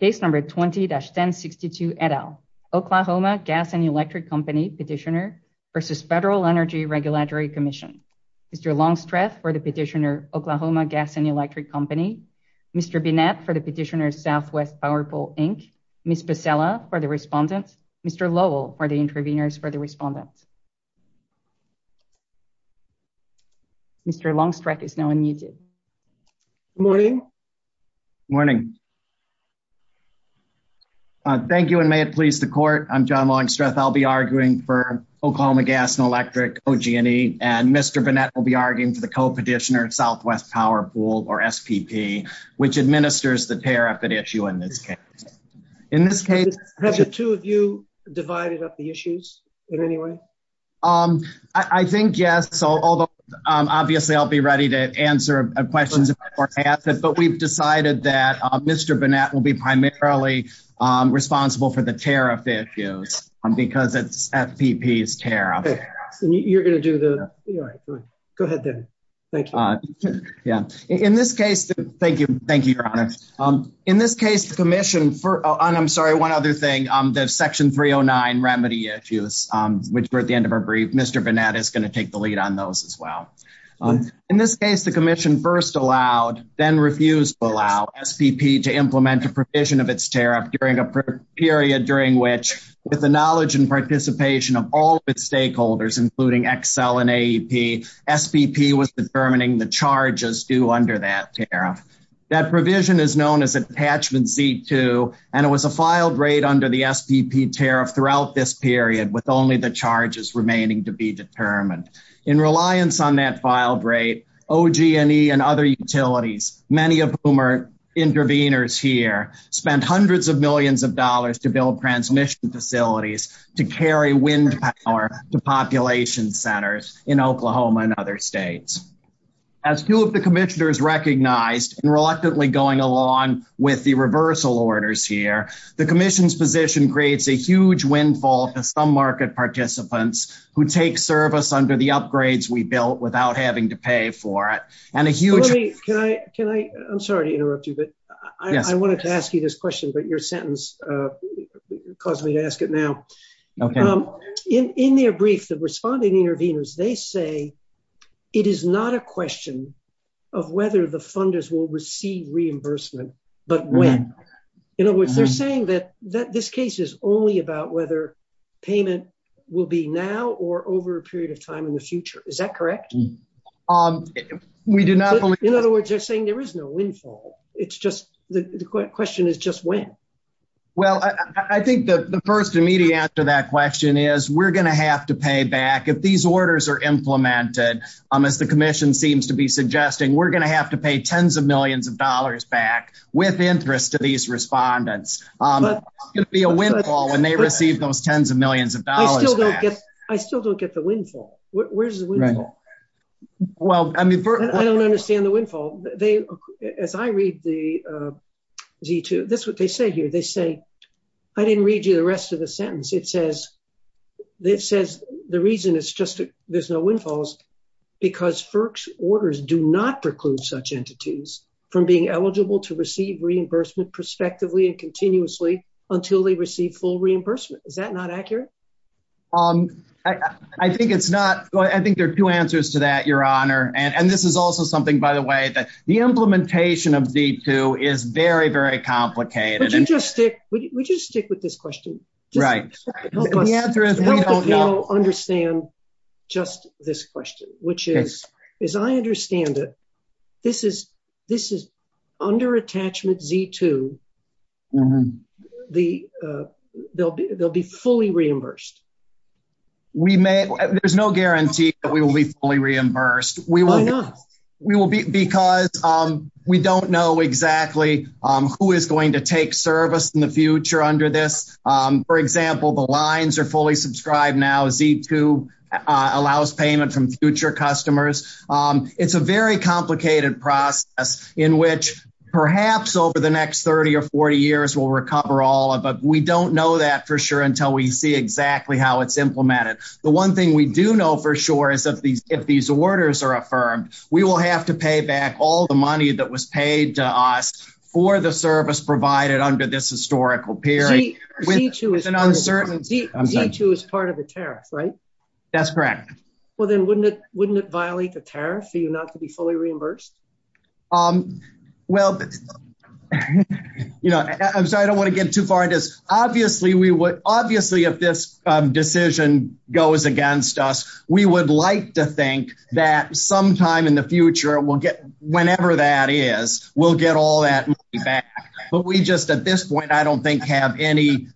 Case number 20-1062 et al. Oklahoma Gas and Electric Company petitioner versus Federal Energy Regulatory Commission. Mr. Longstreth for the petitioner Oklahoma Gas and Electric Company. Mr. Binette for the petitioner Southwest Power Pole, Inc. Ms. Becella for the respondents. Mr. Lowell for the interveners for the respondents. Mr. Longstreth is now unmuted. Good morning. Morning. Thank you and may it please the court. I'm John Longstreth. I'll be arguing for Oklahoma Gas and Electric, OG&E, and Mr. Binette will be arguing for the co-petitioner Southwest Power Pool, or SPP, which administers the tariff at issue in this case. In this case, have the two of you divided up the issues in any way? Um, I think yes, although obviously I'll be ready to answer questions, but we've decided that Mr. Binette will be primarily responsible for the tariff issues because it's SPP's tariff. You're going to do the, go ahead then. Thank you. Yeah. In this case, thank you. Thank you, Your Honor. In this case, the commission for, and I'm sorry, one other thing, the section 309 remedy issues, which were at the end of our brief, Mr. Binette is going to take the lead on those as well. In this case, the commission first allowed, then refused to allow, SPP to implement a provision of its tariff during a period during which, with the knowledge and participation of all of its stakeholders, including Excel and AEP, SPP was determining the charges due under that tariff. That provision is known as Attachment Z2, and it was a filed rate under the SPP tariff throughout this period with only the charges remaining to be determined. In reliance on that filed rate, OG&E and other utilities, many of whom are intervenors here, spent hundreds of millions of dollars to build transmission facilities to carry wind power to population centers in Oklahoma and other states. As two of the commissioners recognized, and reluctantly going along with the reversal orders here, the commission's position creates a huge windfall to some market participants who take service under the upgrades we built without having to pay for it, and a huge- Can I, I'm sorry to interrupt you, but I wanted to ask you this question, but your sentence caused me to ask it now. In their brief, the responding intervenors, they say it is not a question of whether the funders will receive reimbursement, but when. In other words, they're saying that this case is only about whether payment will be now or over a period of time in the future. Is that correct? We do not believe- In other words, they're saying there is no windfall. It's just, the question is just when. Well, I think the orders are implemented. As the commission seems to be suggesting, we're going to have to pay tens of millions of dollars back with interest to these respondents. It's going to be a windfall when they receive those tens of millions of dollars back. I still don't get the windfall. Where's the windfall? I don't understand the windfall. As I read the Z2, that's what they say here. They say, I didn't read you the rest of the sentence. It says, the reason it's just there's no windfall is because FERC's orders do not preclude such entities from being eligible to receive reimbursement prospectively and continuously until they receive full reimbursement. Is that not accurate? I think there are two answers to that, Your Honor. This is also something, by the way, that the implementation of Z2 is very, very complicated. Would you just stick with this question? Right. Help the panel understand just this question, which is, as I understand it, this is under attachment Z2. They'll be fully reimbursed. There's no guarantee that we will be fully reimbursed. Why not? Because we don't know exactly who is going to take service in the future under this. For example, the lines are fully subscribed now. Z2 allows payment from future customers. It's a very complicated process in which perhaps over the next 30 or 40 years, we'll recover all of it. We don't know that for sure until we see exactly how it's implemented. The one thing we do know for sure is if these orders are affirmed, we will have to pay back all the money that was paid to us for the service provided under this historical period. Z2 is part of the tariff, right? That's correct. Well, then wouldn't it violate the tariff for you not to be fully reimbursed? I'm sorry, I don't want to get too far into this. Obviously, if this decision goes against us, we would like to think that sometime in the future, whenever that is, we'll get all that money back. At this point, I don't think we have any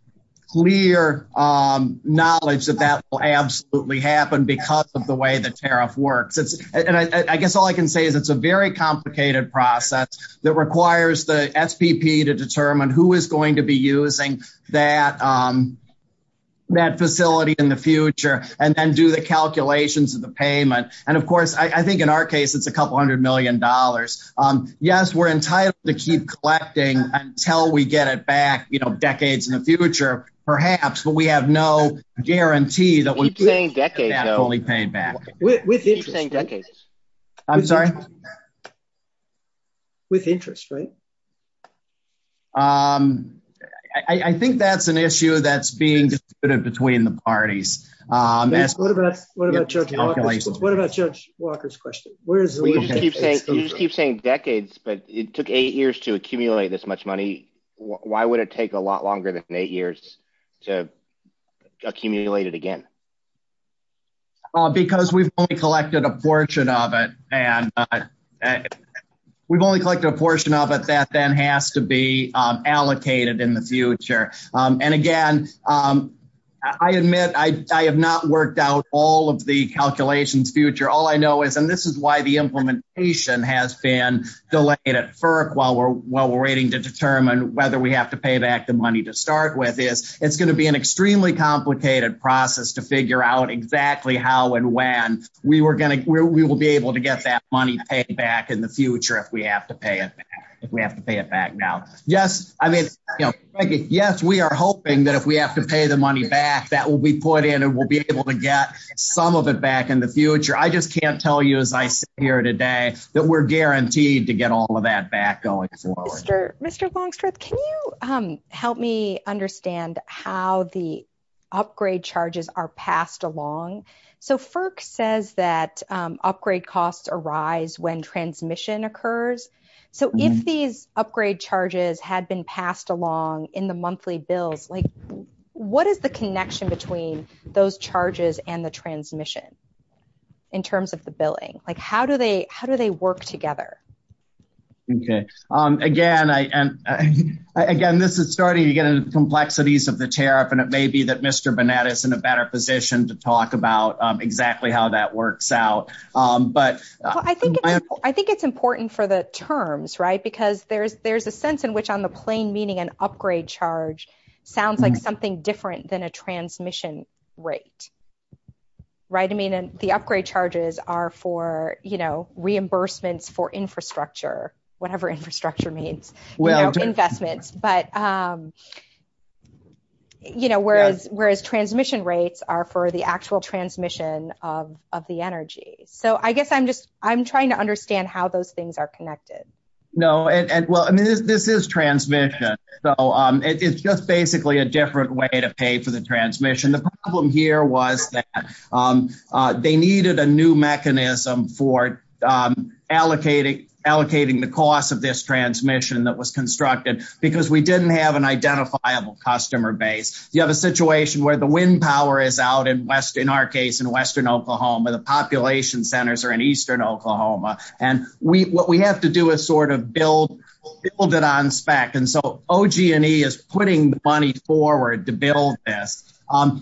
clear knowledge that that will absolutely happen because of the way the tariff works. I guess all I can say is it's a very complicated process that requires the SPP to determine who is going to be using that facility in the future and then do the calculations of the payment. Of course, I think in our case, it's a couple hundred million dollars. Yes, we're entitled to keep collecting until we get it back decades in the future, perhaps, but we have no guarantee that we'll get it back. With interest, right? I think that's an issue that's being disputed between the parties. What about Judge Walker's question? You just keep saying decades, but it took eight years to accumulate this much money. Why would it take a lot longer than eight years to accumulate it again? Because we've only collected a portion of it. We've only collected a portion of it that then has to be allocated in the future. Again, I admit I have not worked out all of the calculations future. All I know is, and this is why the implementation has been delayed at FERC while we're waiting to determine whether we have to pay back the money to start with, is it's going to be an extremely complicated process to figure out exactly how and when we will be able to get that money paid back in the future if we have to pay it back now. Yes, we are hoping that if we have to pay the money back, that will be put in and we'll be able to get some of it back in the future. I just can't tell you as I sit here today that we're guaranteed to get all of that back going forward. Mr. Longstreth, can you help me understand how the upgrade charges are passed along? So FERC says that upgrade costs arise when transmission occurs. So if these upgrade charges had been passed along in the monthly bills, what is the connection between those charges and the transmission in terms of the billing? How do they work together? Okay. Again, this is starting to get into the complexities of the tariff and it may be that Mr. Bonetta is in a better position to talk about exactly how that works out. I think it's important for the terms, right? Because there's a sense in which on the plain meaning an upgrade charge sounds like something different than a transmission rate, right? I mean, the upgrade charges are for reimbursements for infrastructure, whatever infrastructure means, investments. Whereas transmission rates are for the actual transmission of the energy. So I guess I'm trying to understand how those things are connected. No. Well, I mean, this is transmission. So it's just basically a different way to pay for the mechanism for allocating the cost of this transmission that was constructed because we didn't have an identifiable customer base. You have a situation where the wind power is out in our case in Western Oklahoma, the population centers are in Eastern Oklahoma. And what we have to do is sort of build it on spec. And so OG&E is putting the money forward to build this.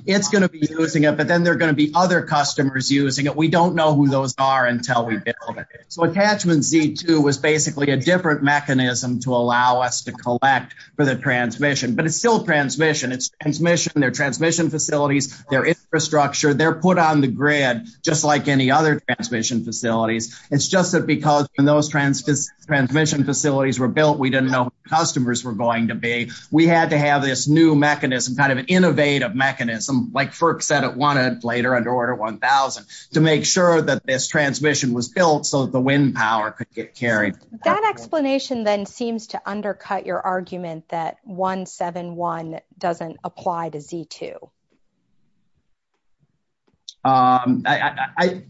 It's going to be using it, but then there are going to be other customers using it. We don't know who those are until we build it. So attachment Z2 was basically a different mechanism to allow us to collect for the transmission, but it's still transmission. It's transmission, their transmission facilities, their infrastructure, they're put on the grid, just like any other transmission facilities. It's just that because when those transmission facilities were built, we didn't know who the customers were going to be. We had to have this new mechanism, kind of an innovative mechanism, like FERC said it wanted later under order 1000 to make sure that this transmission was built so that the wind power could get carried. That explanation then seems to undercut your argument that 171 doesn't apply to Z2. Well,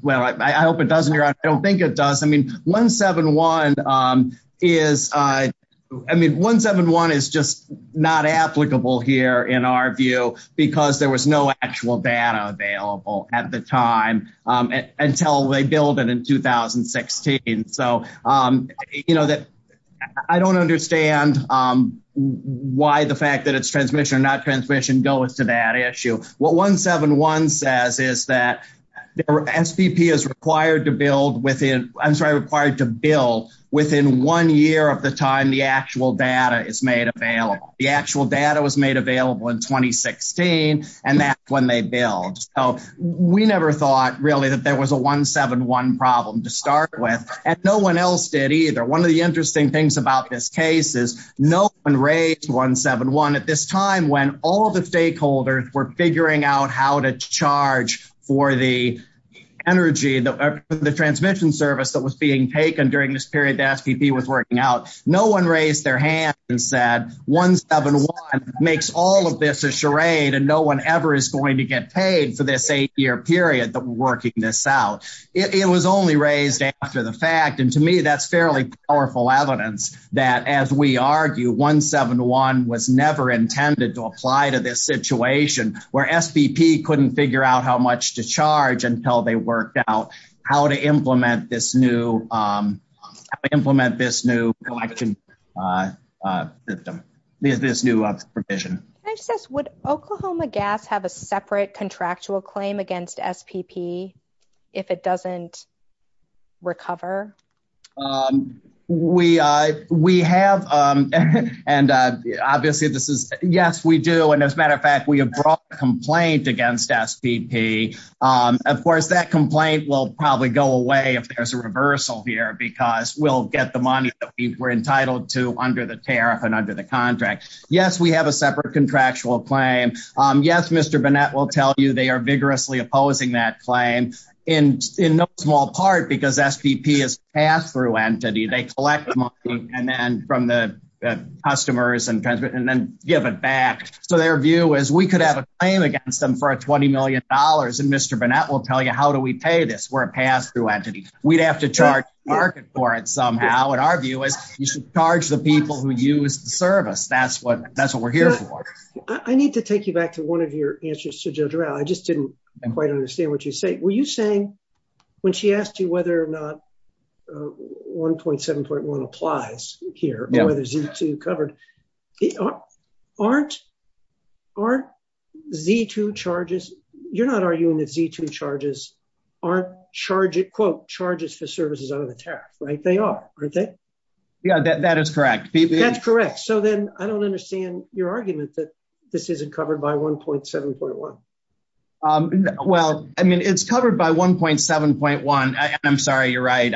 I hope it doesn't. I don't think it does. I mean, 171 is just not applicable here in our view, because there was no actual data available at the time until they built it in 2016. So I don't understand why the fact that it's transmission or not transmission goes to that issue. What 171 says is that SPP is required to build within, I'm sorry, required to build within one year of the time the actual data is made available. The actual data was made available in 2016. And that's when they build. So we never thought really that there was a 171 problem to start with. And no one else did either. One of the interesting things about this case is no one raised 171 at this time when all the stakeholders were figuring out how to charge for the energy, the transmission service that was being taken during this period that SPP was working out. No one raised their hand and said 171 makes all of this a charade and no one ever is going to get paid for this eight year period that we're working this out. It was only raised after the fact. And to me, that's fairly powerful evidence that as we SPP couldn't figure out how much to charge until they worked out how to implement this new collection system, this new provision. Can I just ask, would Oklahoma Gas have a separate contractual claim against SPP if it doesn't recover? We have. And obviously, this is yes, we do. And as a matter of fact, we have brought a complaint against SPP. Of course, that complaint will probably go away if there's a reversal here, because we'll get the money that we were entitled to under the tariff and under the contract. Yes, we have a separate contractual claim. Yes, Mr. Burnett will tell you they are vigorously opposing that claim in no small part because SPP is a pass-through entity. They collect money and then from the customers and transmit and then give it back. So their view is we could have a claim against them for $20 million. And Mr. Burnett will tell you, how do we pay this? We're a pass-through entity. We'd have to charge market for it somehow. And our view is you should charge the people who use the service. That's what we're here for. I need to take you back to one of your answers to Judge Rowell. I just didn't quite understand what you say. Were you saying when she asked you whether or not 1.7.1 applies here, whether Z2 covered, aren't Z2 charges, you're not arguing that Z2 charges aren't quote, charges for services under the tariff, right? They are, aren't they? Yeah, that is correct. That's correct. So then I don't understand your argument that this isn't covered by 1.7.1. Well, I mean, it's covered by 1.7.1. I'm sorry, you're right.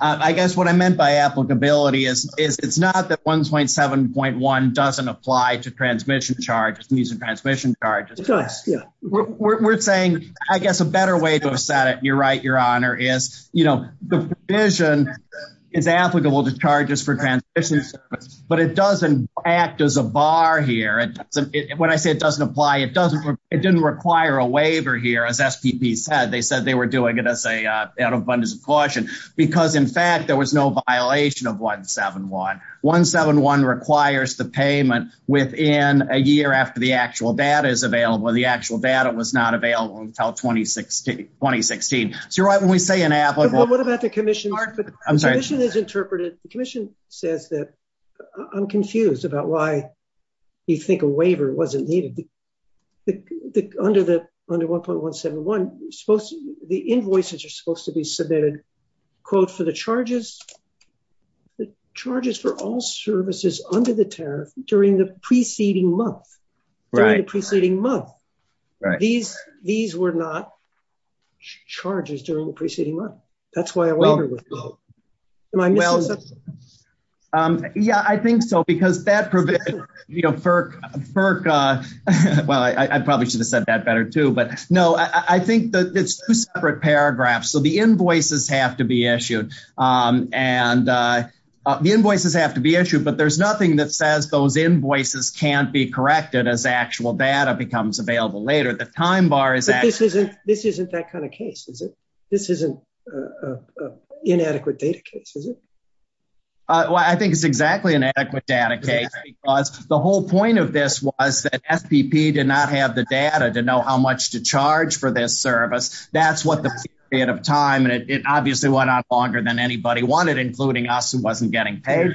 I guess what I meant by applicability is it's not that 1.7.1 doesn't apply to transmission charges, these are transmission charges. We're saying, I guess a better way to have said it, you're right, Your Honor, is the provision is applicable to charges for transmission, but it doesn't act as a bar here. When I say it doesn't apply, it doesn't, it didn't require a waiver here, as SPP said. They said they were doing it as a out of abundance of caution, because in fact, there was no violation of 1.7.1. 1.7.1 requires the payment within a year after the actual data is available. The actual data was not available until 2016. So you're right when we say an applicable. What about the commission? I'm sorry. The commission has interpreted, the commission says that, I'm confused about why you think a waiver wasn't needed. Under 1.1.7.1, the invoices are supposed to be submitted, quote, for the charges, the charges for all services under the tariff during the preceding month, during the preceding month. These were not charges during the preceding month. That's why a waiver was needed. Yeah, I think so, because that provides, you know, FERC, well, I probably should have said that better too, but no, I think that it's two separate paragraphs. So the invoices have to be issued, and the invoices have to be issued, but there's nothing that says those invoices can't be corrected as actual data becomes available later. The time bar is... This isn't that kind of case, is it? This isn't an inadequate data case, is it? Well, I think it's exactly an inadequate data case, because the whole point of this was that FPP did not have the data to know how much to charge for this service. That's what the period of time, and it obviously went on longer than anybody wanted, including us who wasn't getting paid.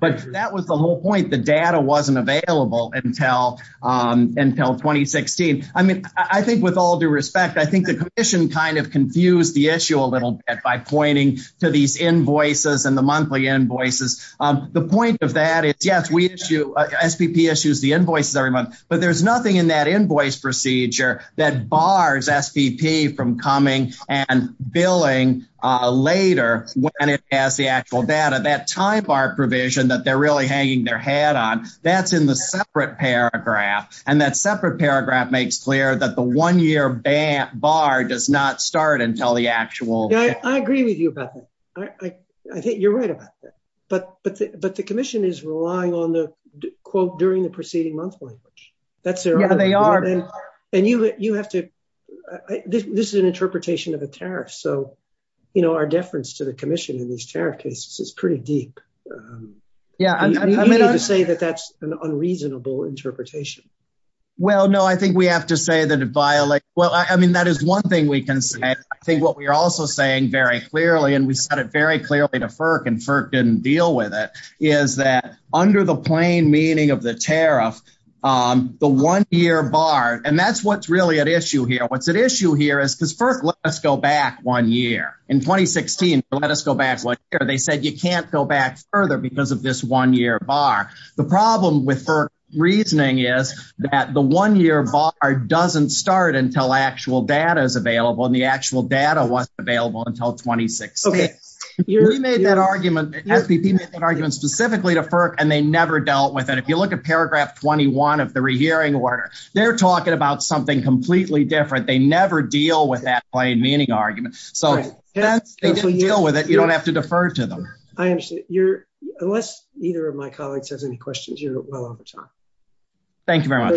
But that was the whole point. The data wasn't available until 2016. I mean, I think with all due respect, I think the commission kind of confused the issue a little bit by pointing to these invoices and the monthly invoices. The point of that is, yes, we issue, SPP issues the invoices every month, but there's nothing in that invoice procedure that bars SPP from coming and billing later when it has the actual data. That time bar provision that they're really hanging their head on, that's in the separate paragraph, and that separate paragraph makes clear that the one-year bar does not start until the actual... I agree with you about that. I think you're right about that. But the commission is relying on the quote, during the preceding month language. That's their... Yeah, they are. And you have to... This is an interpretation of a tariff, so our deference to the commission in these tariff cases is pretty deep. You need to say that that's an unreasonable interpretation. Well, no, I think we have to say that it violates... Well, I mean, that is one thing we can say. I think what we are also saying very clearly, and we said it very clearly to FERC, and FERC didn't deal with it, is that under the plain meaning of the tariff, the one-year bar... And that's what's really at issue here. What's at issue here is, because FERC let us go back one year. In 2016, they let us go back one year. They said, you can't go back further because of this one-year bar. The problem with FERC reasoning is that the one-year bar doesn't start until actual data is available, and the actual data wasn't available until 2016. We made that argument, FPP made that argument specifically to FERC, and they never dealt with it. If you look at paragraph 21 of the rehearing order, they're talking about something completely different. They never deal with that plain meaning argument. So since they didn't deal with it, you don't have to defer to them. I understand. Unless either of my colleagues has any questions, you're well on time. Thank you very much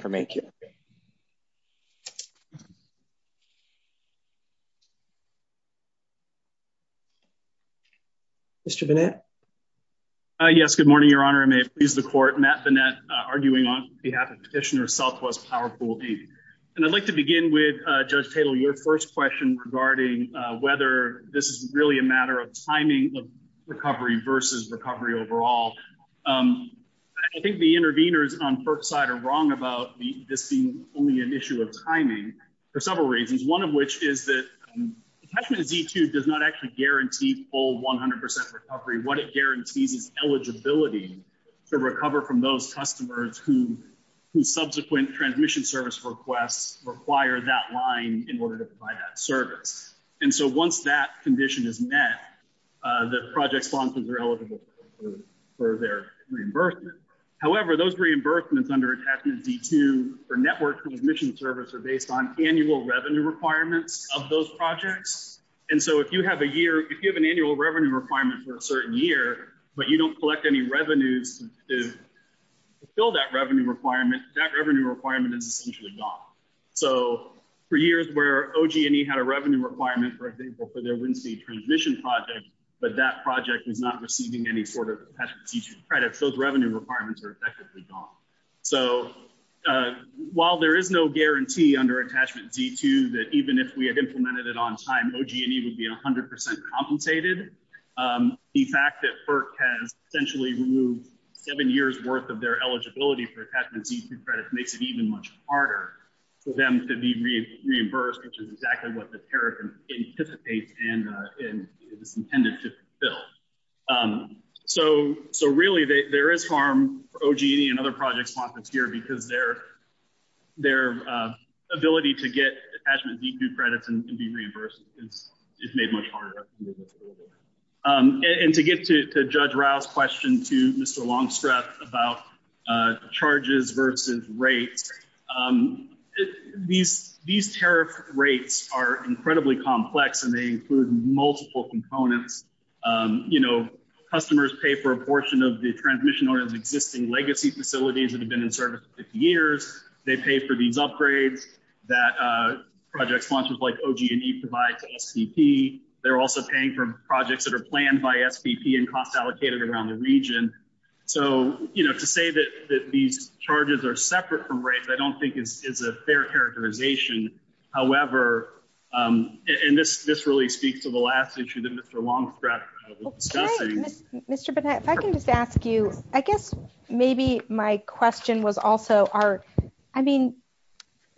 for making it. Mr. Burnett? Yes. Good morning, Your Honor. I may please the court. Matt Burnett, arguing on behalf of Petitioner Southwest Power Pool D. I'd like to begin with this is really a matter of timing of recovery versus recovery overall. I think the interveners on FERC's side are wrong about this being only an issue of timing for several reasons, one of which is that attachment Z2 does not actually guarantee full 100% recovery. What it guarantees is eligibility to recover from those customers whose subsequent transmission service requests require that line in order to provide that service. And so once that condition is met, the project sponsors are eligible for their reimbursement. However, those reimbursements under attachment Z2 for network transmission service are based on annual revenue requirements of those projects. And so if you have a year, if you have an annual revenue requirement for a certain year, but you don't collect any revenues to fill that revenue requirement, that revenue requirement is essentially gone. So for years where OG&E had a revenue requirement, for example, for their wind speed transmission project, but that project is not receiving any sort of attachment Z2 credit, those revenue requirements are effectively gone. So while there is no guarantee under attachment Z2 that even if we had implemented it on time, OG&E would be 100% compensated, the fact that FERC has essentially removed seven years worth of their eligibility for attachment Z2 credit makes it even much harder for them to be reimbursed, which is exactly what the tariff anticipates and is intended to fill. So really there is harm for OG&E and other project sponsors here because their ability to get attachment Z2 credits and be reimbursed is made much harder. And to get to Judge Rao's question to Mr. Longstrep about charges versus rates, these tariff rates are incredibly complex and they include multiple components. Customers pay for a portion of the transmission order's existing legacy facilities that have been in service for 50 years. They pay for these upgrades that project sponsors like OG&E provide to SPP. They're also paying for projects that are planned by SPP and cost allocated around the region. So to say that these charges are separate from rates, I don't think is a fair characterization. However, and this really speaks to the last issue that Mr. Longstrep was discussing. Okay. Mr. Burnett, if I can just ask you, I guess maybe my question was also, I mean,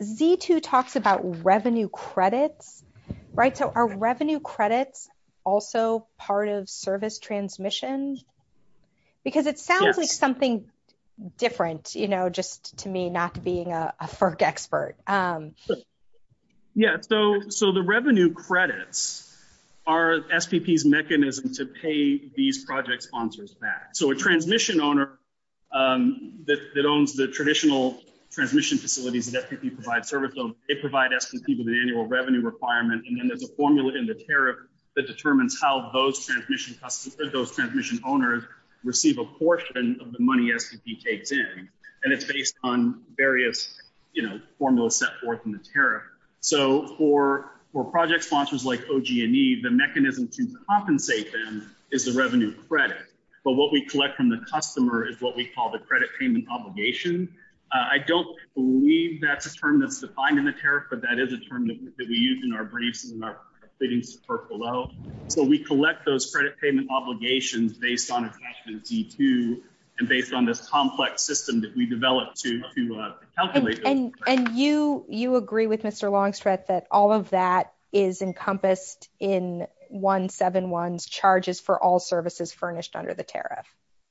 Z2 talks about revenue credits, right? So are revenue credits also part of service transmission? Because it sounds like something different, you know, just to me not being a FERC expert. Yeah. So the revenue credits are SPP's mechanism to pay these project sponsors back. So a traditional transmission facilities that SPP provides service of, they provide SPP with an annual revenue requirement. And then there's a formula in the tariff that determines how those transmission owners receive a portion of the money SPP takes in. And it's based on various, you know, formulas set forth in the tariff. So for project sponsors like OG&E, the mechanism to compensate them is the revenue credit. But what we collect from the customer is what we credit payment obligation. I don't believe that's a term that's defined in the tariff, but that is a term that we use in our briefs and in our proceedings to FERC below. So we collect those credit payment obligations based on attachment Z2 and based on this complex system that we developed to calculate those. And you agree with Mr. Longstrep that all of that is encompassed in 171's charges for all services furnished under the tariff?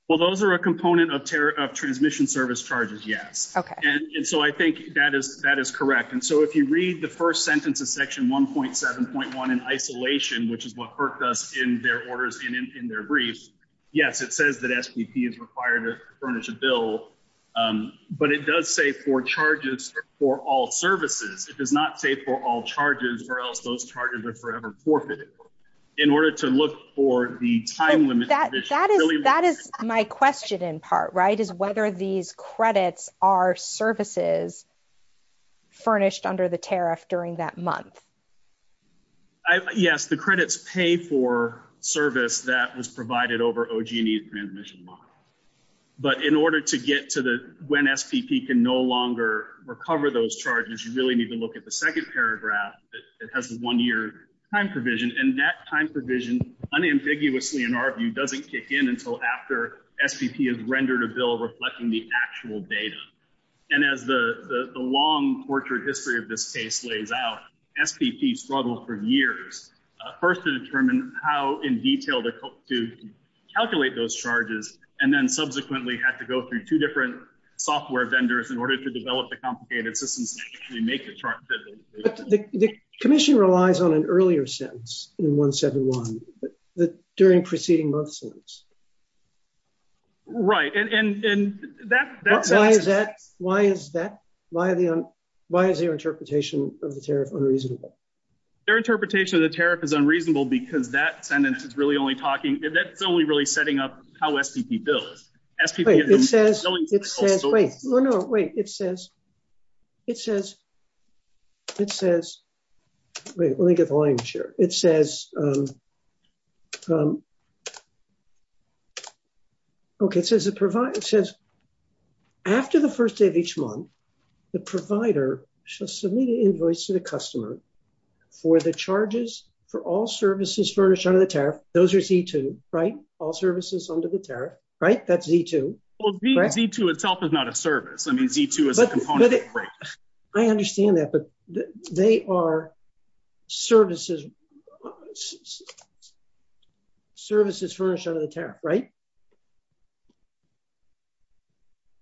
Well, those are a component of tariff of transmission service charges. Yes. And so I think that is correct. And so if you read the first sentence of section 1.7.1 in isolation, which is what FERC does in their orders in their briefs, yes, it says that SPP is required to furnish a bill, but it does say four charges for all services. It does not say for all charges or those charges are forever forfeited in order to look for the time limit. That is my question in part, right, is whether these credits are services furnished under the tariff during that month. Yes, the credits pay for service that was provided over OG&E transmission model. But in order to get to the when SPP can no longer recover those that it has a one year time provision and that time provision unambiguously in our view doesn't kick in until after SPP has rendered a bill reflecting the actual data. And as the long portrait history of this case lays out, SPP struggled for years, first to determine how in detail to calculate those charges, and then subsequently had to go through two different software vendors in order to develop the complicated systems to make the chart. The commission relies on an earlier sentence in 1.7.1 during preceding month sentence. Right, and why is that, why is their interpretation of the tariff unreasonable? Their interpretation of the tariff is unreasonable because that sentence is really only talking, that's only really setting up how SPP builds. Wait, it says, wait, no, no, wait, it says, it says, it says, wait, let me get the line here. It says, okay, it says the provider, it says, after the first day of each month, the provider shall submit an invoice to the customer for the charges for all services furnished under the right, all services under the tariff, right? That's Z2. Well, Z2 itself is not a service. I mean, Z2 is a component of freight. I understand that, but they are services, services furnished under the tariff, right?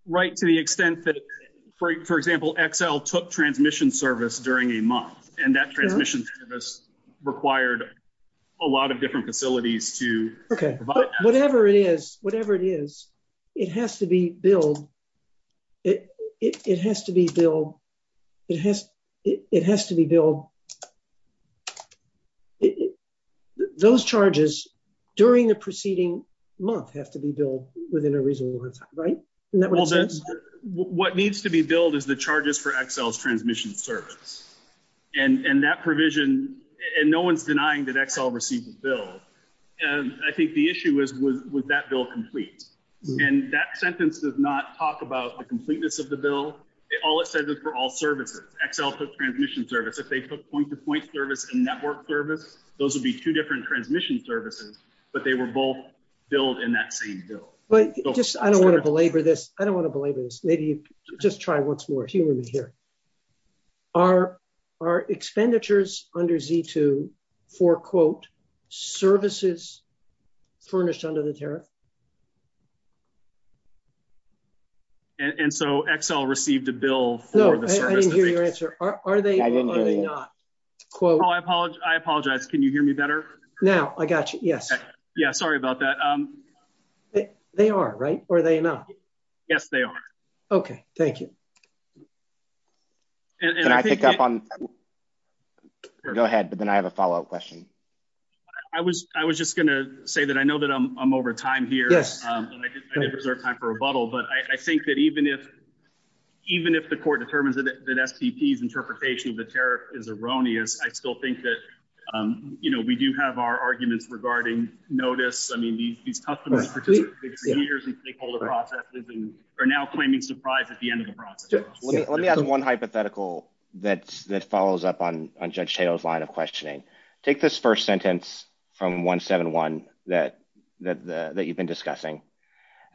Right, to the extent that, for example, XL took transmission service during a month, and that transmission service required a lot of different facilities to provide. Whatever it is, whatever it is, it has to be billed, it has to be billed, it has to be billed, those charges during the preceding month have to be billed within a reasonable amount of time, right? What needs to be billed is the charges for XL's transmission service, and that provision, and no one's denying that XL received the bill, and I think the issue is, was that bill complete? And that sentence does not talk about the completeness of the bill. All it says is for all services. XL took transmission service. If they took point-to-point service and network service, those would be two different transmission services, but they were both billed in that same bill. But just, I don't want to belabor this. I don't want our expenditures under Z2 for, quote, services furnished under the tariff. And so, XL received a bill for the service. No, I didn't hear your answer. Are they not, quote? Oh, I apologize. Can you hear me better? Now, I got you, yes. Yeah, sorry about that. They are, right? Are they not? Yes, they are. Okay, thank you. And I pick up on, go ahead, but then I have a follow-up question. I was just going to say that I know that I'm over time here, and I did reserve time for rebuttal, but I think that even if the court determines that SPP's interpretation of the tariff is erroneous, I still think that, you know, we do have our arguments regarding notice. I mean, these Let me ask one hypothetical that follows up on Judge Taylor's line of questioning. Take this first sentence from 171 that you've been discussing,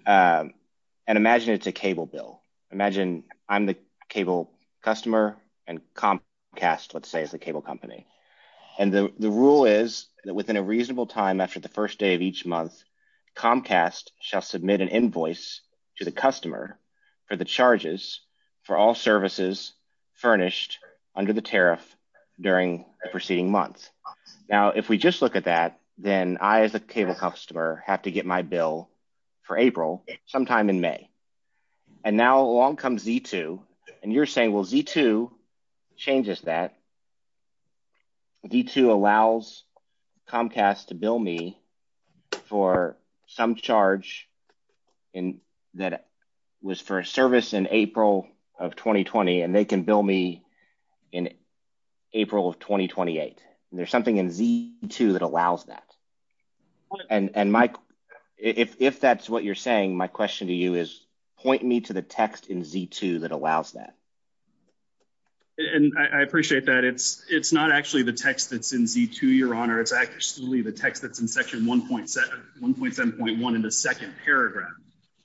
and imagine it's a cable bill. Imagine I'm the cable customer, and Comcast, let's say, is the cable company. And the rule is that within a reasonable time after the first day of each month, Comcast shall submit an invoice to the customer for the charges for all services furnished under the tariff during the preceding month. Now, if we just look at that, then I, as a cable customer, have to get my bill for April sometime in May. And now along comes Z2, and you're saying, well, Z2 changes that. Z2 allows Comcast to bill me for some charge that was for a service in April of 2020, and they can bill me in April of 2028. There's something in Z2 that allows that. And, Mike, if that's what you're saying, my question to you is point me to the text in Z2 that allows that. And I appreciate that. It's not actually the text that's in Z2, Your Honor. It's actually the text that's in Section 1.7.1 in the second paragraph,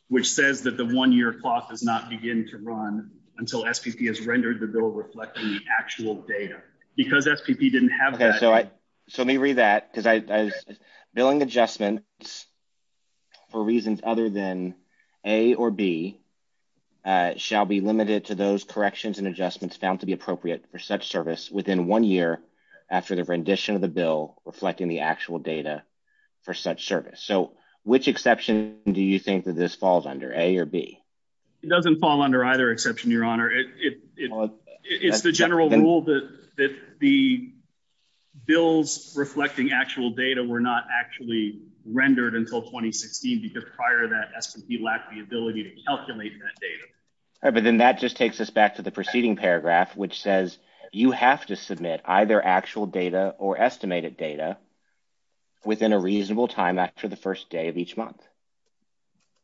which says that the one-year clock does not begin to run until SPP has rendered the bill reflecting the actual data. Because SPP didn't have that. Okay, so let me read that, because billing adjustments for reasons other than A or B shall be limited to those corrections and adjustments found to be appropriate for such service within one year after the rendition of the bill reflecting the actual data for such service. So which exception do you think that this falls under, A or B? It doesn't fall under either exception, Your Honor. It's the general rule that the bills reflecting actual data were not actually rendered until 2016, because prior to that, SPP lacked the ability to calculate that data. All right, but then that just takes us back to the preceding paragraph, which says you have to submit either actual data or estimated data within a reasonable time after the first day of each month.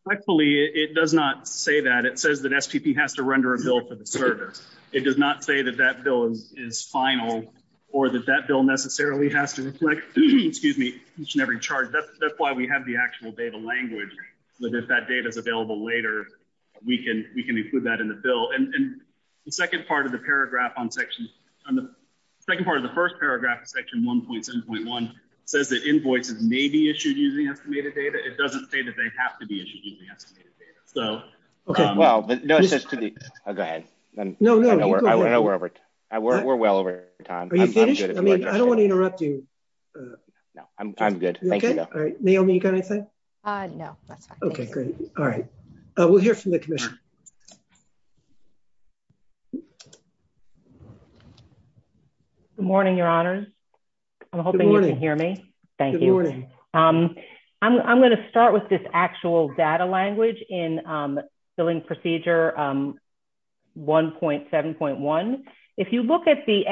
Correctfully, it does not say that. It says that SPP has to render a bill for the service. It does not say that that bill is final or that that bill necessarily has to reflect, excuse me, each and every charge. That's why we have the actual data language, that if that data is available later, we can include that in the bill. And the second part of the paragraph on section, on the second part of the first paragraph of section 1.7.1 says that invoices may be issued using estimated data. It doesn't say that they have to be issued using estimated data. So, okay, well, no, it says to the, oh, go ahead. No, no, we're well over time. Are you finished? I mean, I don't want to interrupt you. No, I'm good. Thank you. All right. Naomi, you got anything? No, that's fine. Okay, great. All right. We'll hear from the commission. Good morning, Your Honor. I'm hoping you can hear me. Thank you. Good morning. I'm going to start with this actual data language in billing procedure 1.7.1. If you look at the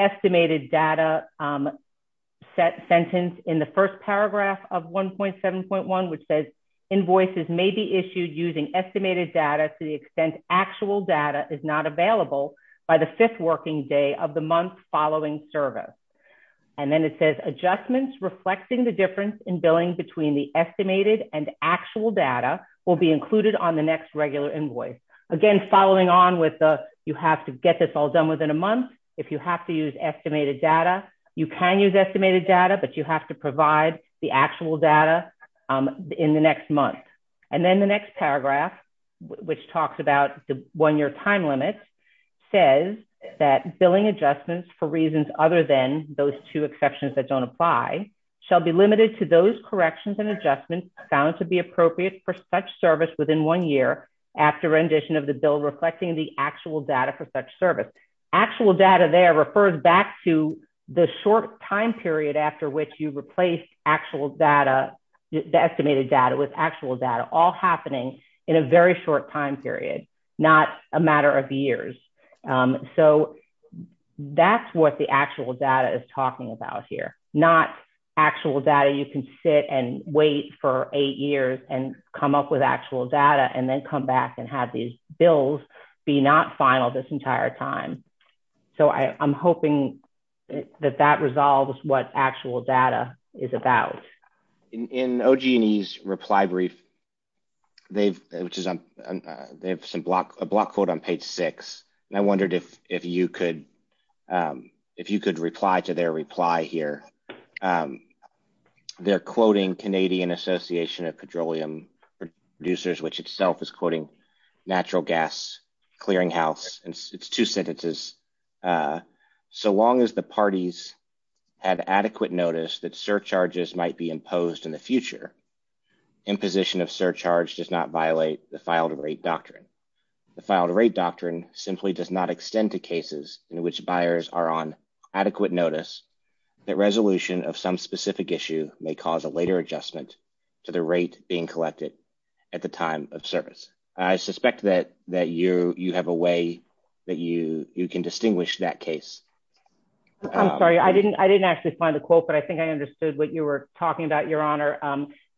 data sentence in the first paragraph of 1.7.1, which says invoices may be issued using estimated data to the extent actual data is not available by the fifth working day of the month following service. And then it says adjustments reflecting the difference in billing between the estimated and actual data will be included on the next regular invoice. Again, following on with the, you have to get this all done within a month. If you have to use estimated data, you can use estimated data, but you have to provide the actual data in the next month. And then the next paragraph, which talks about the one-year time limit, says that billing adjustments for reasons other than those two exceptions that don't apply shall be limited to those corrections and adjustments found to be appropriate for such service within one year after rendition of the bill reflecting the actual data for such service. Actual data there refers back to the short time period after which you replace actual data, the estimated data with actual data, all happening in a very short time period, not a matter of years. So that's what the actual data is talking about here, not actual data you can sit and wait for eight years and come up with actual data and then come back and have these bills be not final this entire time. So I'm hoping that that resolves what actual data is about. In OG&E's reply brief, they've, which is on, they have some block, a block quote on page six, and I wondered if you could, if you could reply to their reply here. They're quoting Canadian Association of Petroleum Producers, which itself is quoting natural gas clearinghouse, and it's two sentences. So long as the parties had adequate notice that surcharges might be imposed in the future, imposition of surcharge does not violate the file-to-rate doctrine. The file-to-rate doctrine simply does not extend to cases in which buyers are on adequate notice that resolution of some adjustment to the rate being collected at the time of service. I suspect that you have a way that you can distinguish that case. I'm sorry, I didn't actually find the quote, but I think I understood what you were talking about, Your Honor.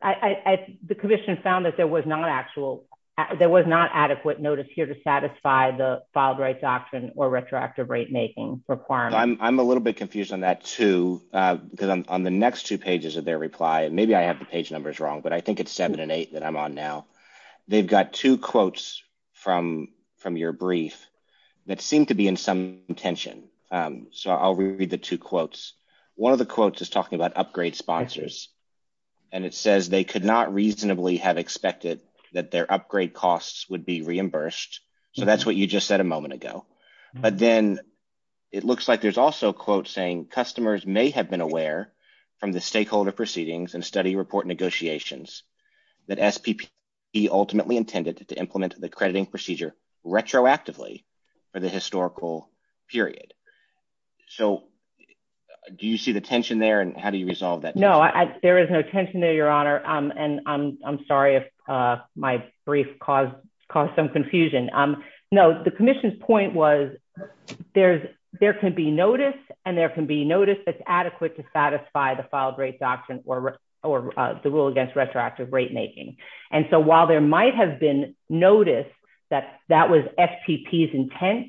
The commission found that there was not actual, there was not adequate notice here to satisfy the file-to-rate doctrine or retroactive rate making requirement. I'm a little bit confused on that too, because on the next two pages of their reply, and maybe I have the page numbers wrong, but I think it's seven and eight that I'm on now. They've got two quotes from your brief that seem to be in some tension. So I'll read the two quotes. One of the quotes is talking about upgrade sponsors, and it says they could not reasonably have expected that their upgrade costs would be reimbursed. So that's what you just said a moment ago. But then it looks like there's also quotes saying customers may have been aware from the stakeholder proceedings and study report negotiations that SPP ultimately intended to implement the crediting procedure retroactively for the historical period. So do you see the tension there and how do you resolve that? No, there is no tension there, Your Honor. And I'm sorry if my brief caused some confusion. No, the commission's point was there can be notice and there can be notice that's adequate to satisfy the file-to-rate doctrine or the rule against retroactive rate making. And so while there might have been notice that that was SPP's intent,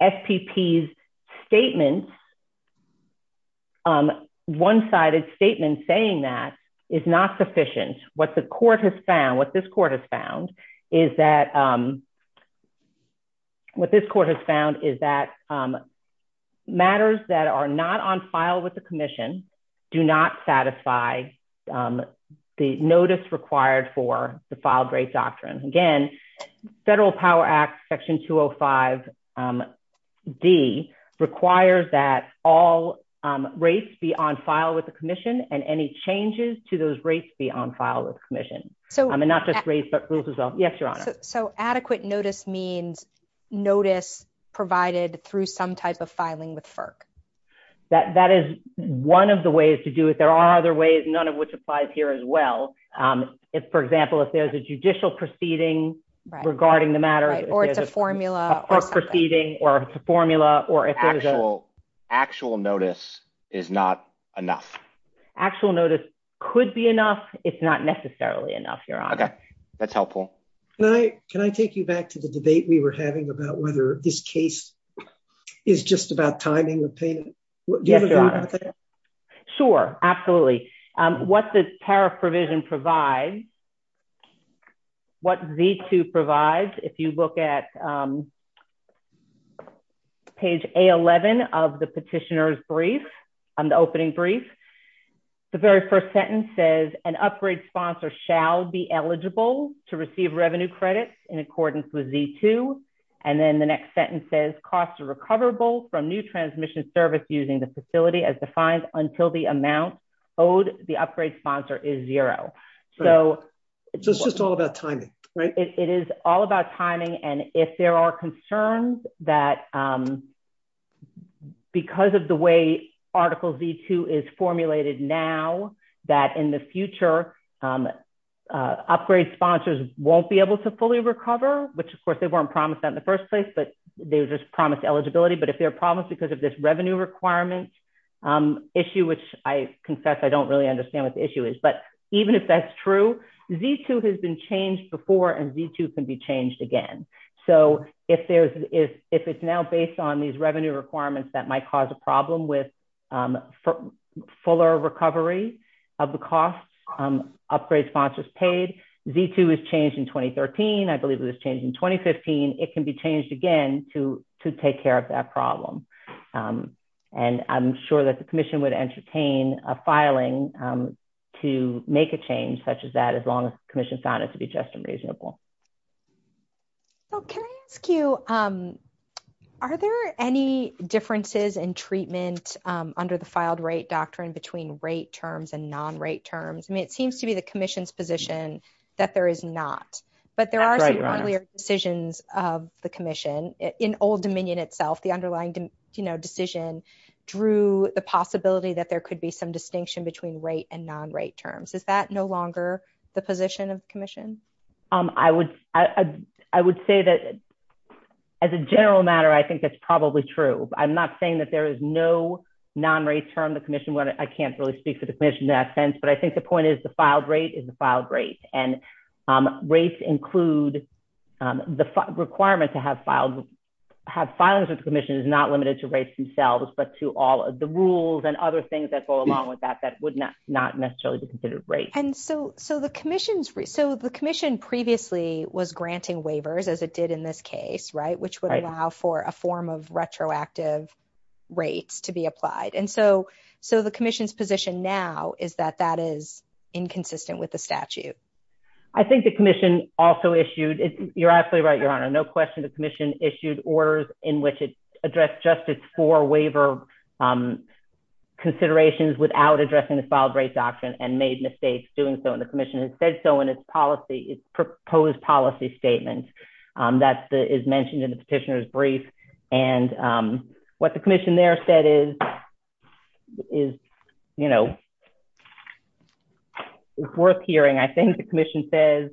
SPP's statement, one-sided statement saying that is not sufficient. What this court has found is that matters that are not on file with the commission do not satisfy the notice required for the file-to-rate doctrine. Again, Federal Power Act Section 205D requires that all rates be on file with the commission and any changes to those rates be on file with the commission. I mean, not just rates but rules as well. Yes, Your Honor. So adequate notice means notice provided through some type of filing with FERC? That is one of the ways to do it. There are other ways, none of which applies here as well. If, for example, if there's a judicial proceeding regarding the matter. Or it's a formula. Actual notice is not enough. Actual notice could be enough. It's not necessarily enough, Your Honor. Okay, that's helpful. Can I take you back to the debate we were having about whether this case is just about timing? Yes, Your Honor. Sure, absolutely. What the tariff provision provides, what Z2 provides, if you look at page A11 of the petitioner's brief, the opening brief, the very first sentence says, an upgrade sponsor shall be eligible to receive revenue credits in accordance with Z2. And then the next sentence says, costs are recoverable from new transmission service using the facility as defined until the amount owed the upgrade sponsor is zero. So it's just all about timing, right? It is all about timing. And if there are concerns that because of the way Article Z2 is formulated now, that in the future, upgrade sponsors won't be able to fully recover, which of course they weren't promised that in the first place, but they were just promised eligibility. But if there are problems because of this revenue requirement issue, which I confess, I don't really understand what the issue is, but even if that's true, Z2 has been changed before and Z2 can be changed again. So if it's now based on these revenue requirements that might cause a problem with fuller recovery of the costs, upgrade sponsors paid, Z2 is changed in 2013, I believe it was changed in 2015, it can be changed again to take care of that problem. And I'm sure that the commission would entertain a filing to make a change such as that, as long as the commission found it to be just and reasonable. So can I ask you, are there any differences in treatment under the filed rate doctrine between rate terms and non-rate terms? I mean, it seems to be the commission's position that there is not, but there are some earlier decisions of the commission in old dominion itself, the underlying decision drew the possibility that there could be some distinction between rate and non-rate terms. Is that no longer the position of commission? I would say that as a general matter, I think that's probably true. I'm not saying that there is no non-rate term, the commission, I can't really speak for the commission in that sense, but I think the point is the filed rate and rates include the requirement to have filing with the commission is not limited to rates themselves, but to all of the rules and other things that go along with that, that would not necessarily be considered rates. And so the commission previously was granting waivers as it did in this case, right? Which would allow for a form of retroactive rates to be applied. So the commission's position now is that that is inconsistent with the statute. I think the commission also issued, you're absolutely right, your honor. No question, the commission issued orders in which it addressed justice for waiver considerations without addressing the filed rate doctrine and made mistakes doing so. And the commission has said so in its policy, its proposed policy statement that is mentioned in the petitioner's brief. And what the commission there said is, it's worth hearing. I think the commission says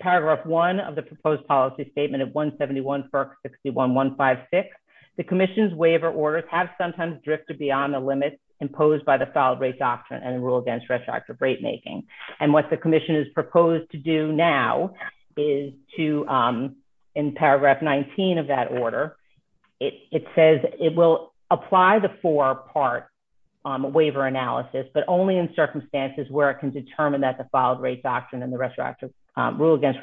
paragraph one of the proposed policy statement at 171 FERC 61156, the commission's waiver orders have sometimes drifted beyond the limits imposed by the filed rate doctrine and rule against rate making. And what the commission is proposed to do now is to, in paragraph 19 of that order, it says it will apply the four part waiver analysis, but only in circumstances where it can determine that the filed rate doctrine and the rule against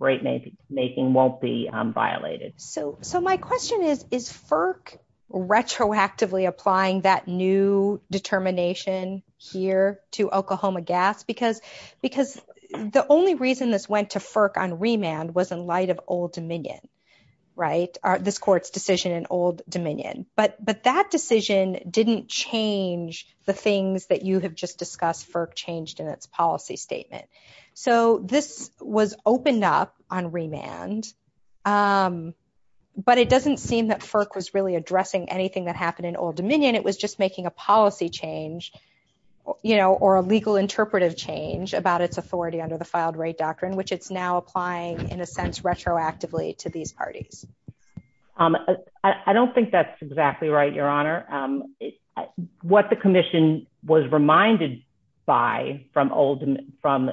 rate making won't be violated. So my question is, is FERC retroactively applying that new determination here to Oklahoma gas? Because the only reason this went to FERC on remand was in light of Old Dominion, right? This court's decision in Old Dominion. But that decision didn't change the things that you have just discussed FERC changed in its policy statement. So this was opened up on remand, but it doesn't seem that FERC was really addressing anything that happened in Old Dominion. It was just making a policy change or a legal interpretive change about its authority under the filed rate doctrine, which it's now applying in a sense, retroactively to these parties. I don't think that's exactly right, your honor. What the commission was reminded by from Old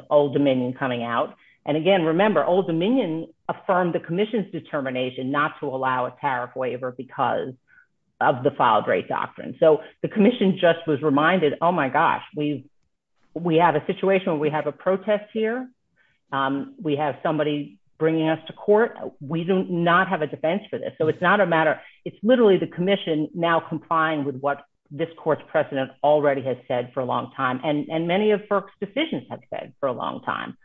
Dominion coming out. And again, remember Old Dominion affirmed the commission's not to allow a tariff waiver because of the filed rate doctrine. So the commission just was reminded, oh my gosh, we have a situation where we have a protest here. We have somebody bringing us to court. We do not have a defense for this. So it's not a matter. It's literally the commission now complying with what this court's president already has said for a long time. And many of FERC's decisions have said for a long time.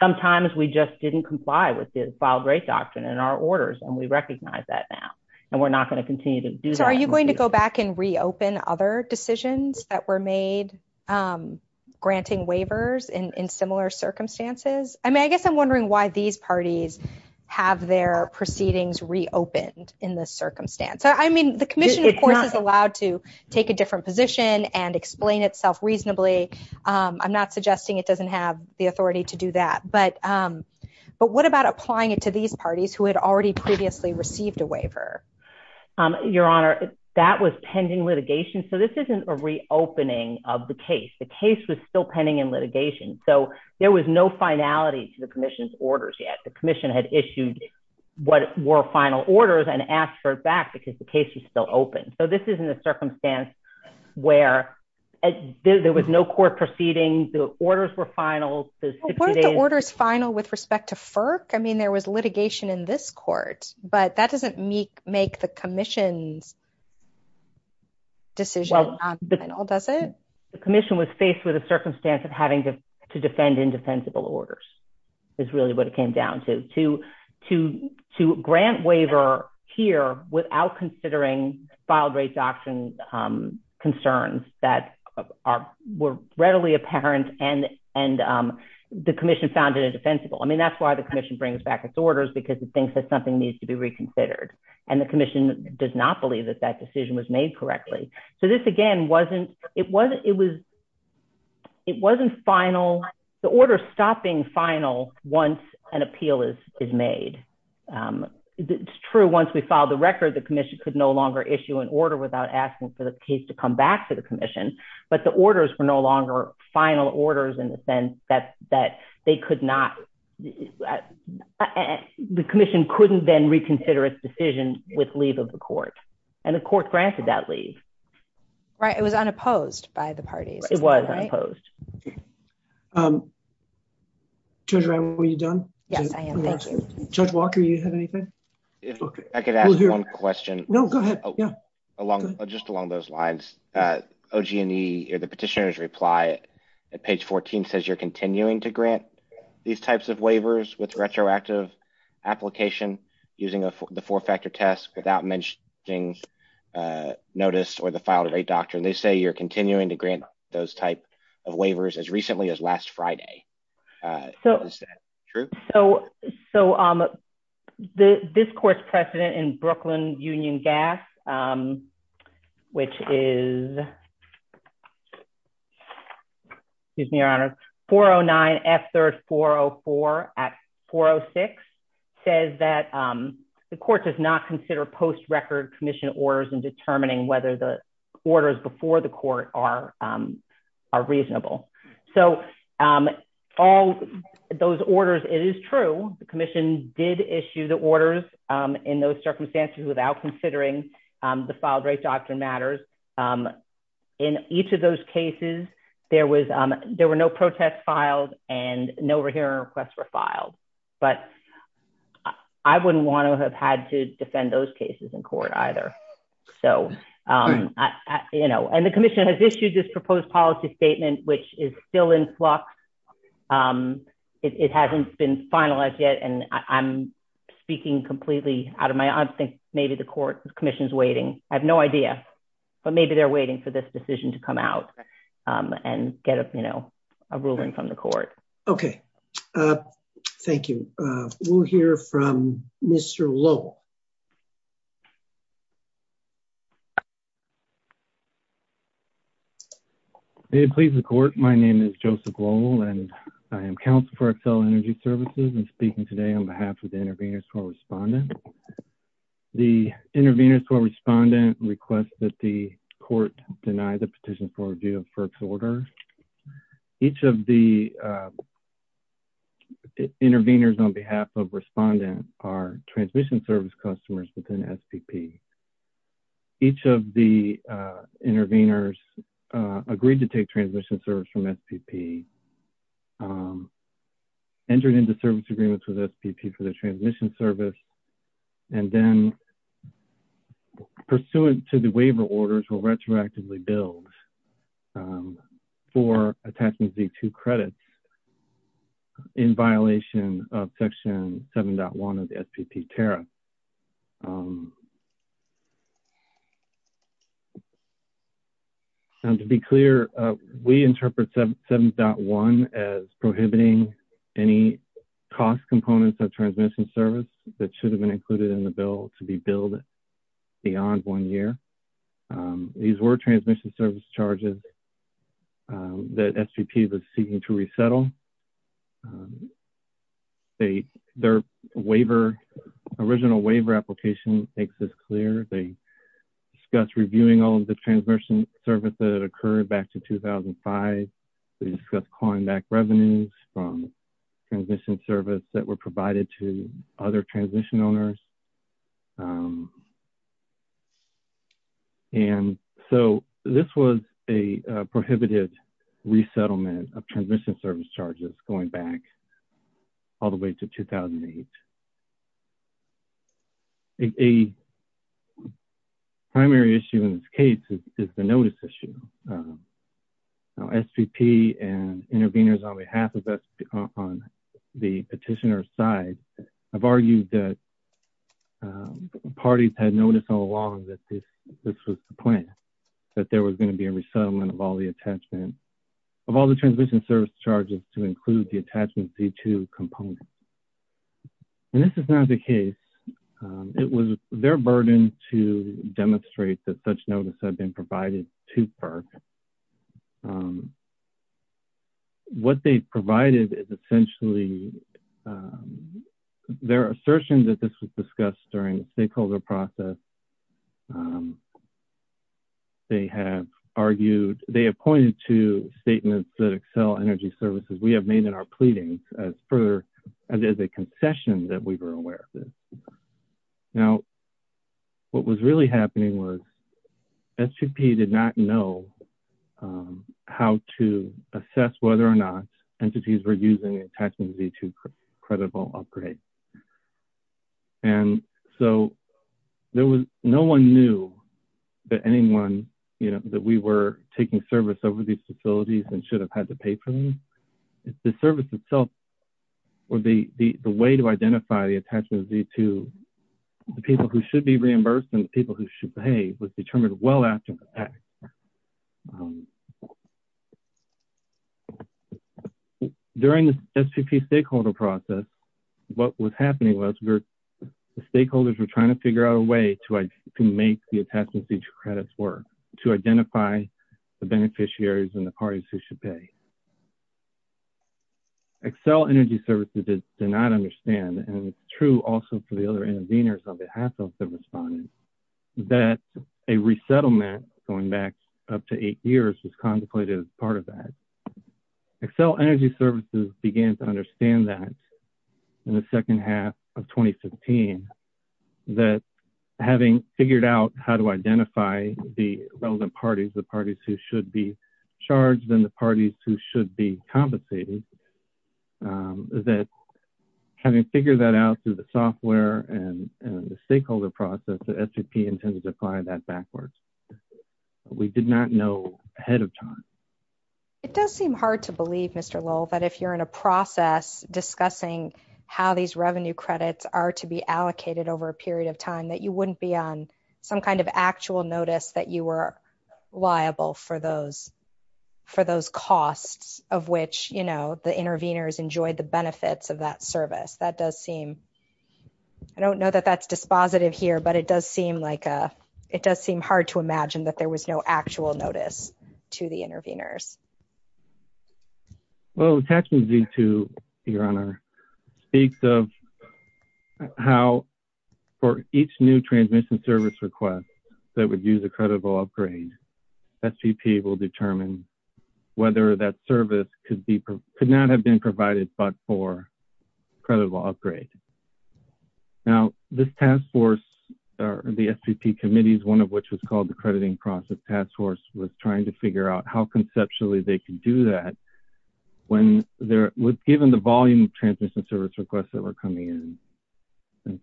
Sometimes we just didn't comply with the filed rate doctrine and our orders. And we recognize that now, and we're not going to continue to do that. So are you going to go back and reopen other decisions that were made, granting waivers in similar circumstances? I mean, I guess I'm wondering why these parties have their proceedings reopened in this circumstance. I mean, the commission, of course, is allowed to take a different position and explain itself reasonably. I'm suggesting it doesn't have the authority to do that. But what about applying it to these parties who had already previously received a waiver? Your Honor, that was pending litigation. So this isn't a reopening of the case. The case was still pending in litigation. So there was no finality to the commission's orders yet. The commission had issued what were final orders and asked for it back because the case was still open. So this is in a circumstance where there was no court proceeding. The orders were final. Weren't the orders final with respect to FERC? I mean, there was litigation in this court, but that doesn't make the commission's decision not final, does it? The commission was faced with a circumstance of having to defend indefensible orders is really what it came down to. To grant waiver here without considering filed rate doctrine concerns that were readily apparent and the commission found it indefensible. I mean, that's why the commission brings back its orders because it thinks that something needs to be reconsidered. And the commission does not believe that that decision was made correctly. So this, again, it wasn't final. The order stopped being final once an appeal is made. It's true once we issue an order without asking for the case to come back to the commission, but the orders were no longer final orders in the sense that they could not. The commission couldn't then reconsider its decision with leave of the court and the court granted that leave. Right. It was unopposed by the parties. It was unopposed. Judge Ryan, were you done? Yes, I am. Thank you. Judge Walker, you have anything? I could ask one question. No, go ahead. Yeah. Along, just along those lines, OG&E or the petitioner's reply at page 14 says you're continuing to grant these types of waivers with retroactive application using the four-factor test without mentioning notice or the filed rate doctrine. They say you're continuing to grant those type of waivers as recently as last Friday. Is that true? So this court's precedent in Brooklyn Union Gas, which is, excuse me, Your Honor, 409F3404 Act 406 says that the court does not consider post-record commission orders in determining whether the orders before the court are reasonable. So all those orders, it is true. The commission did issue the orders in those circumstances without considering the filed rate doctrine matters. In each of those cases, there were no protests filed and no hearing requests were filed. But I wouldn't want to have had to defend those cases in court either. And the commission has issued this proposed policy statement, which is still in flux. It hasn't been finalized yet. And I'm speaking completely out of my... I think maybe the commission's waiting. I have no idea, but maybe they're waiting for this decision to come out and get a ruling from the court. Okay. Thank you. We'll hear from Mr. Lowell. May it please the court. My name is Joseph Lowell and I am counsel for Accel Energy Services and speaking today on behalf of the intervenors for respondent. The intervenors for respondent request that the court deny the petition for review of FERC's order. Each of the intervenors on behalf of respondent are transmission service customers within SPP. Each of the intervenors agreed to take transmission service from SPP, entered into service agreements with SPP for the transmission service, and then pursuant to the waiver orders will retroactively build for attachment Z2 credits in violation of section 7.1 of the SPP tariff. To be clear, we interpret 7.1 as prohibiting any cost components of transmission service that should have been included in the bill to be billed beyond one year. These were transmission service charges that SPP was seeking to resettle. Their waiver, original waiver application makes this clear. They discuss reviewing all of the transmission service that occurred back to 2005. They discuss calling back revenues from transmission service that were provided to other transmission owners. So, this was a prohibited resettlement of transmission service charges going back all the way to 2008. A primary issue in this case is the notice issue. SPP and intervenors on behalf of the petitioner side have argued that parties had noticed all along that this was the plan, that there was going to be a resettlement of all the attachments, of all the transmission service charges to include the attachment Z2 component. This is not the case. It was their burden to demonstrate that such notice had been provided to FERC. What they provided is essentially their assertion that this was discussed during the stakeholder process. They have argued, they have pointed to statements that Xcel Energy Services, we have made in our pleadings as a concession that we were aware of. Now, what was really happening was SPP did not know how to assess whether or not entities were using the attachment Z2 creditable upgrade. No one knew that we were taking service over these facilities and should have had to pay for them. The service itself or the way to identify the attachment Z2, the people who should be reimbursed and the people who should pay was determined well after. During the SPP stakeholder process, what was happening was the stakeholders were trying to figure out a way to make the attachment Z2 credits work, to identify the beneficiaries and the parties who should pay. Xcel Energy Services did not understand, and it is true also for the other interveners on behalf of the respondents, that a resettlement going back up to eight years was contemplated as part of that. Xcel Energy Services began to understand that in the second half of 2015, that having figured out how to identify the relevant parties, the parties who should be compensated, that having figured that out through the software and the stakeholder process, the SPP intended to apply that backwards. We did not know ahead of time. It does seem hard to believe, Mr. Lowell, that if you are in a process discussing how these revenue credits are to be allocated over a period of time, that you would not be on some kind of actual notice that you were liable for those costs of which the interveners enjoyed the benefits of that service. I do not know that that is dispositive here, but it does seem hard to imagine that there was no actual notice to the interveners. Attachment Z2 speaks of how for each new transmission service request that would use a creditable upgrade, SPP will determine whether that service could not have been provided but for a creditable upgrade. Now, this task force, the SPP committees, one of which was called the Crediting Process Task Force, was trying to figure out how conceptually they could do that when given the volume of transmission service requests that were coming in.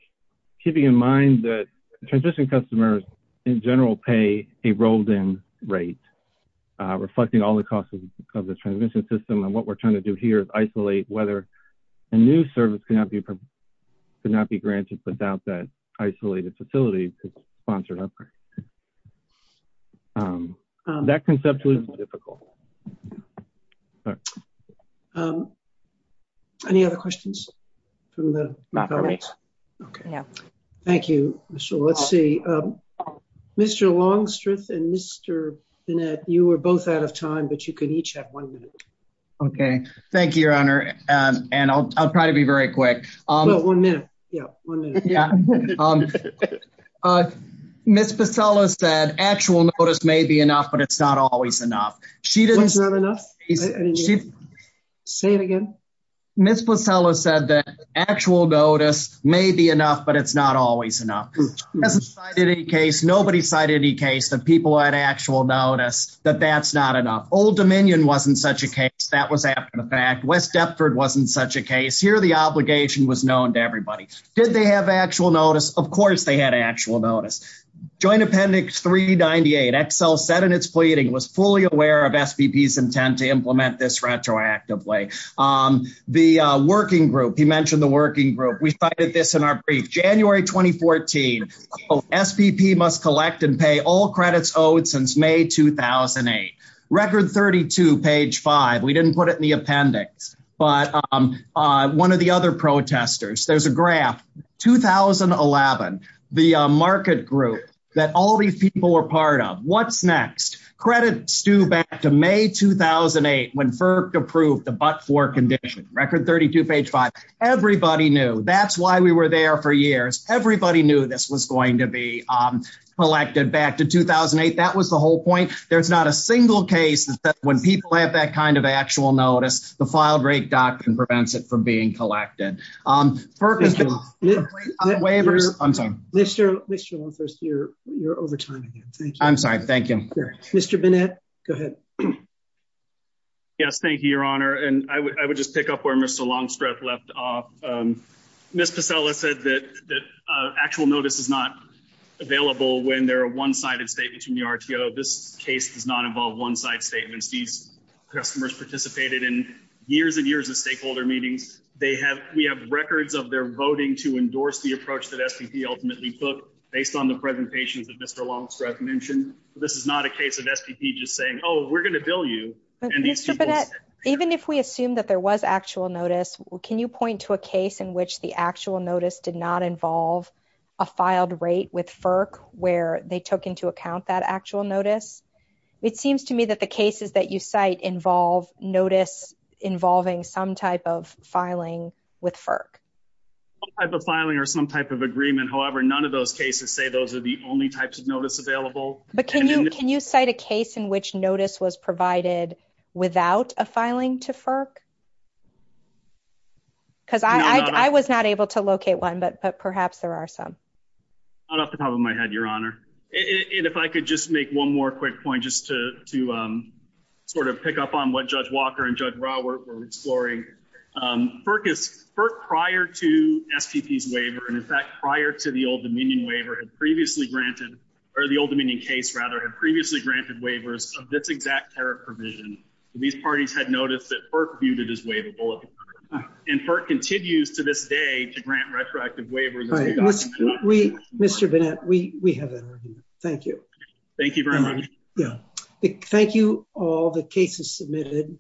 Keeping in mind that transition customers in general pay a rolled-in rate, reflecting all the costs of the transmission system, and what we are trying to do here is isolate whether a new service could not be granted without that isolated facility to sponsor an upgrade. That conceptually is difficult. Any other questions? Thank you. Mr. Longstreth and Mr. Bennett, you were both out of time, but you can each have one minute. Okay. Thank you, Your Honor. I'll try to be very quick. One minute. Ms. Pasella said actual notice may be enough, but it's not always enough. What's not enough? Say it again. Ms. Pasella said that actual notice may be enough, but it's not always enough. Nobody cited any case that people had actual notice that that's not enough. Old Dominion wasn't such a case. That was after the fact. West Deptford wasn't such a case. Here, the obligation was known to everybody. Did they have actual notice? Of course, they had actual notice. Joint Appendix 398, Excel said in its pleading, was fully aware of SPP's intent to implement this retroactively. The working group, he mentioned the working group. We cited this in our brief. January 2014, SPP must collect and pay all credits owed since May 2008. Record 32, page five. We didn't put it in the appendix, but one of the other protesters, there's a graph. 2011, the market group that all these people were part of. What's next? Credits due back to May 2008 when FERC approved the but-for condition. Record 32, page five. Everybody knew. That's why we were there for years. Everybody knew this was going to be collected back to 2008. That was the whole point. There's not a single case that when people have that kind of actual notice, the file break doctrine prevents it from being collected. Mr. Longstreth, you're over time again. Thank you. I'm sorry. Thank you. Mr. Bennett, go ahead. Yes, thank you, your honor. I would just pick up where Mr. Longstreth left off. Ms. Pasella said that actual notice is not available when there are one-sided statements from the RTO. This case does not involve one-side statements. These customers participated in years and years of stakeholder meetings. We have records of their voting to endorse the approach that SPP ultimately took based on the presentations that Mr. Longstreth mentioned. This is not a case of SPP just saying, oh, we're going to bill you. Mr. Bennett, even if we assume that there was actual notice, can you point to a case in which the actual notice did not involve a filed rate with FERC where they took into account that actual notice? It seems to me that the cases that you cite involve notice involving some type of filing with FERC. Some type of filing or some type of agreement. However, none of those cases say those are the only types of notice available. But can you cite a case in which notice was provided without a filing to FERC? Because I was not able to locate one, but perhaps there are some. Not off the top of my head, Your Honor. And if I could just make one more quick point just to sort of pick up on what Judge Walker and Judge Rawert were exploring. FERC prior to SPP's waiver and in fact prior to the Old Dominion waiver had previously granted, or the Old Dominion case rather previously granted waivers of this exact tariff provision. These parties had noticed that FERC viewed it as waivable and FERC continues to this day to grant retroactive waivers. Mr. Bennett, we have that argument. Thank you. Thank you very much. Thank you all the cases submitted.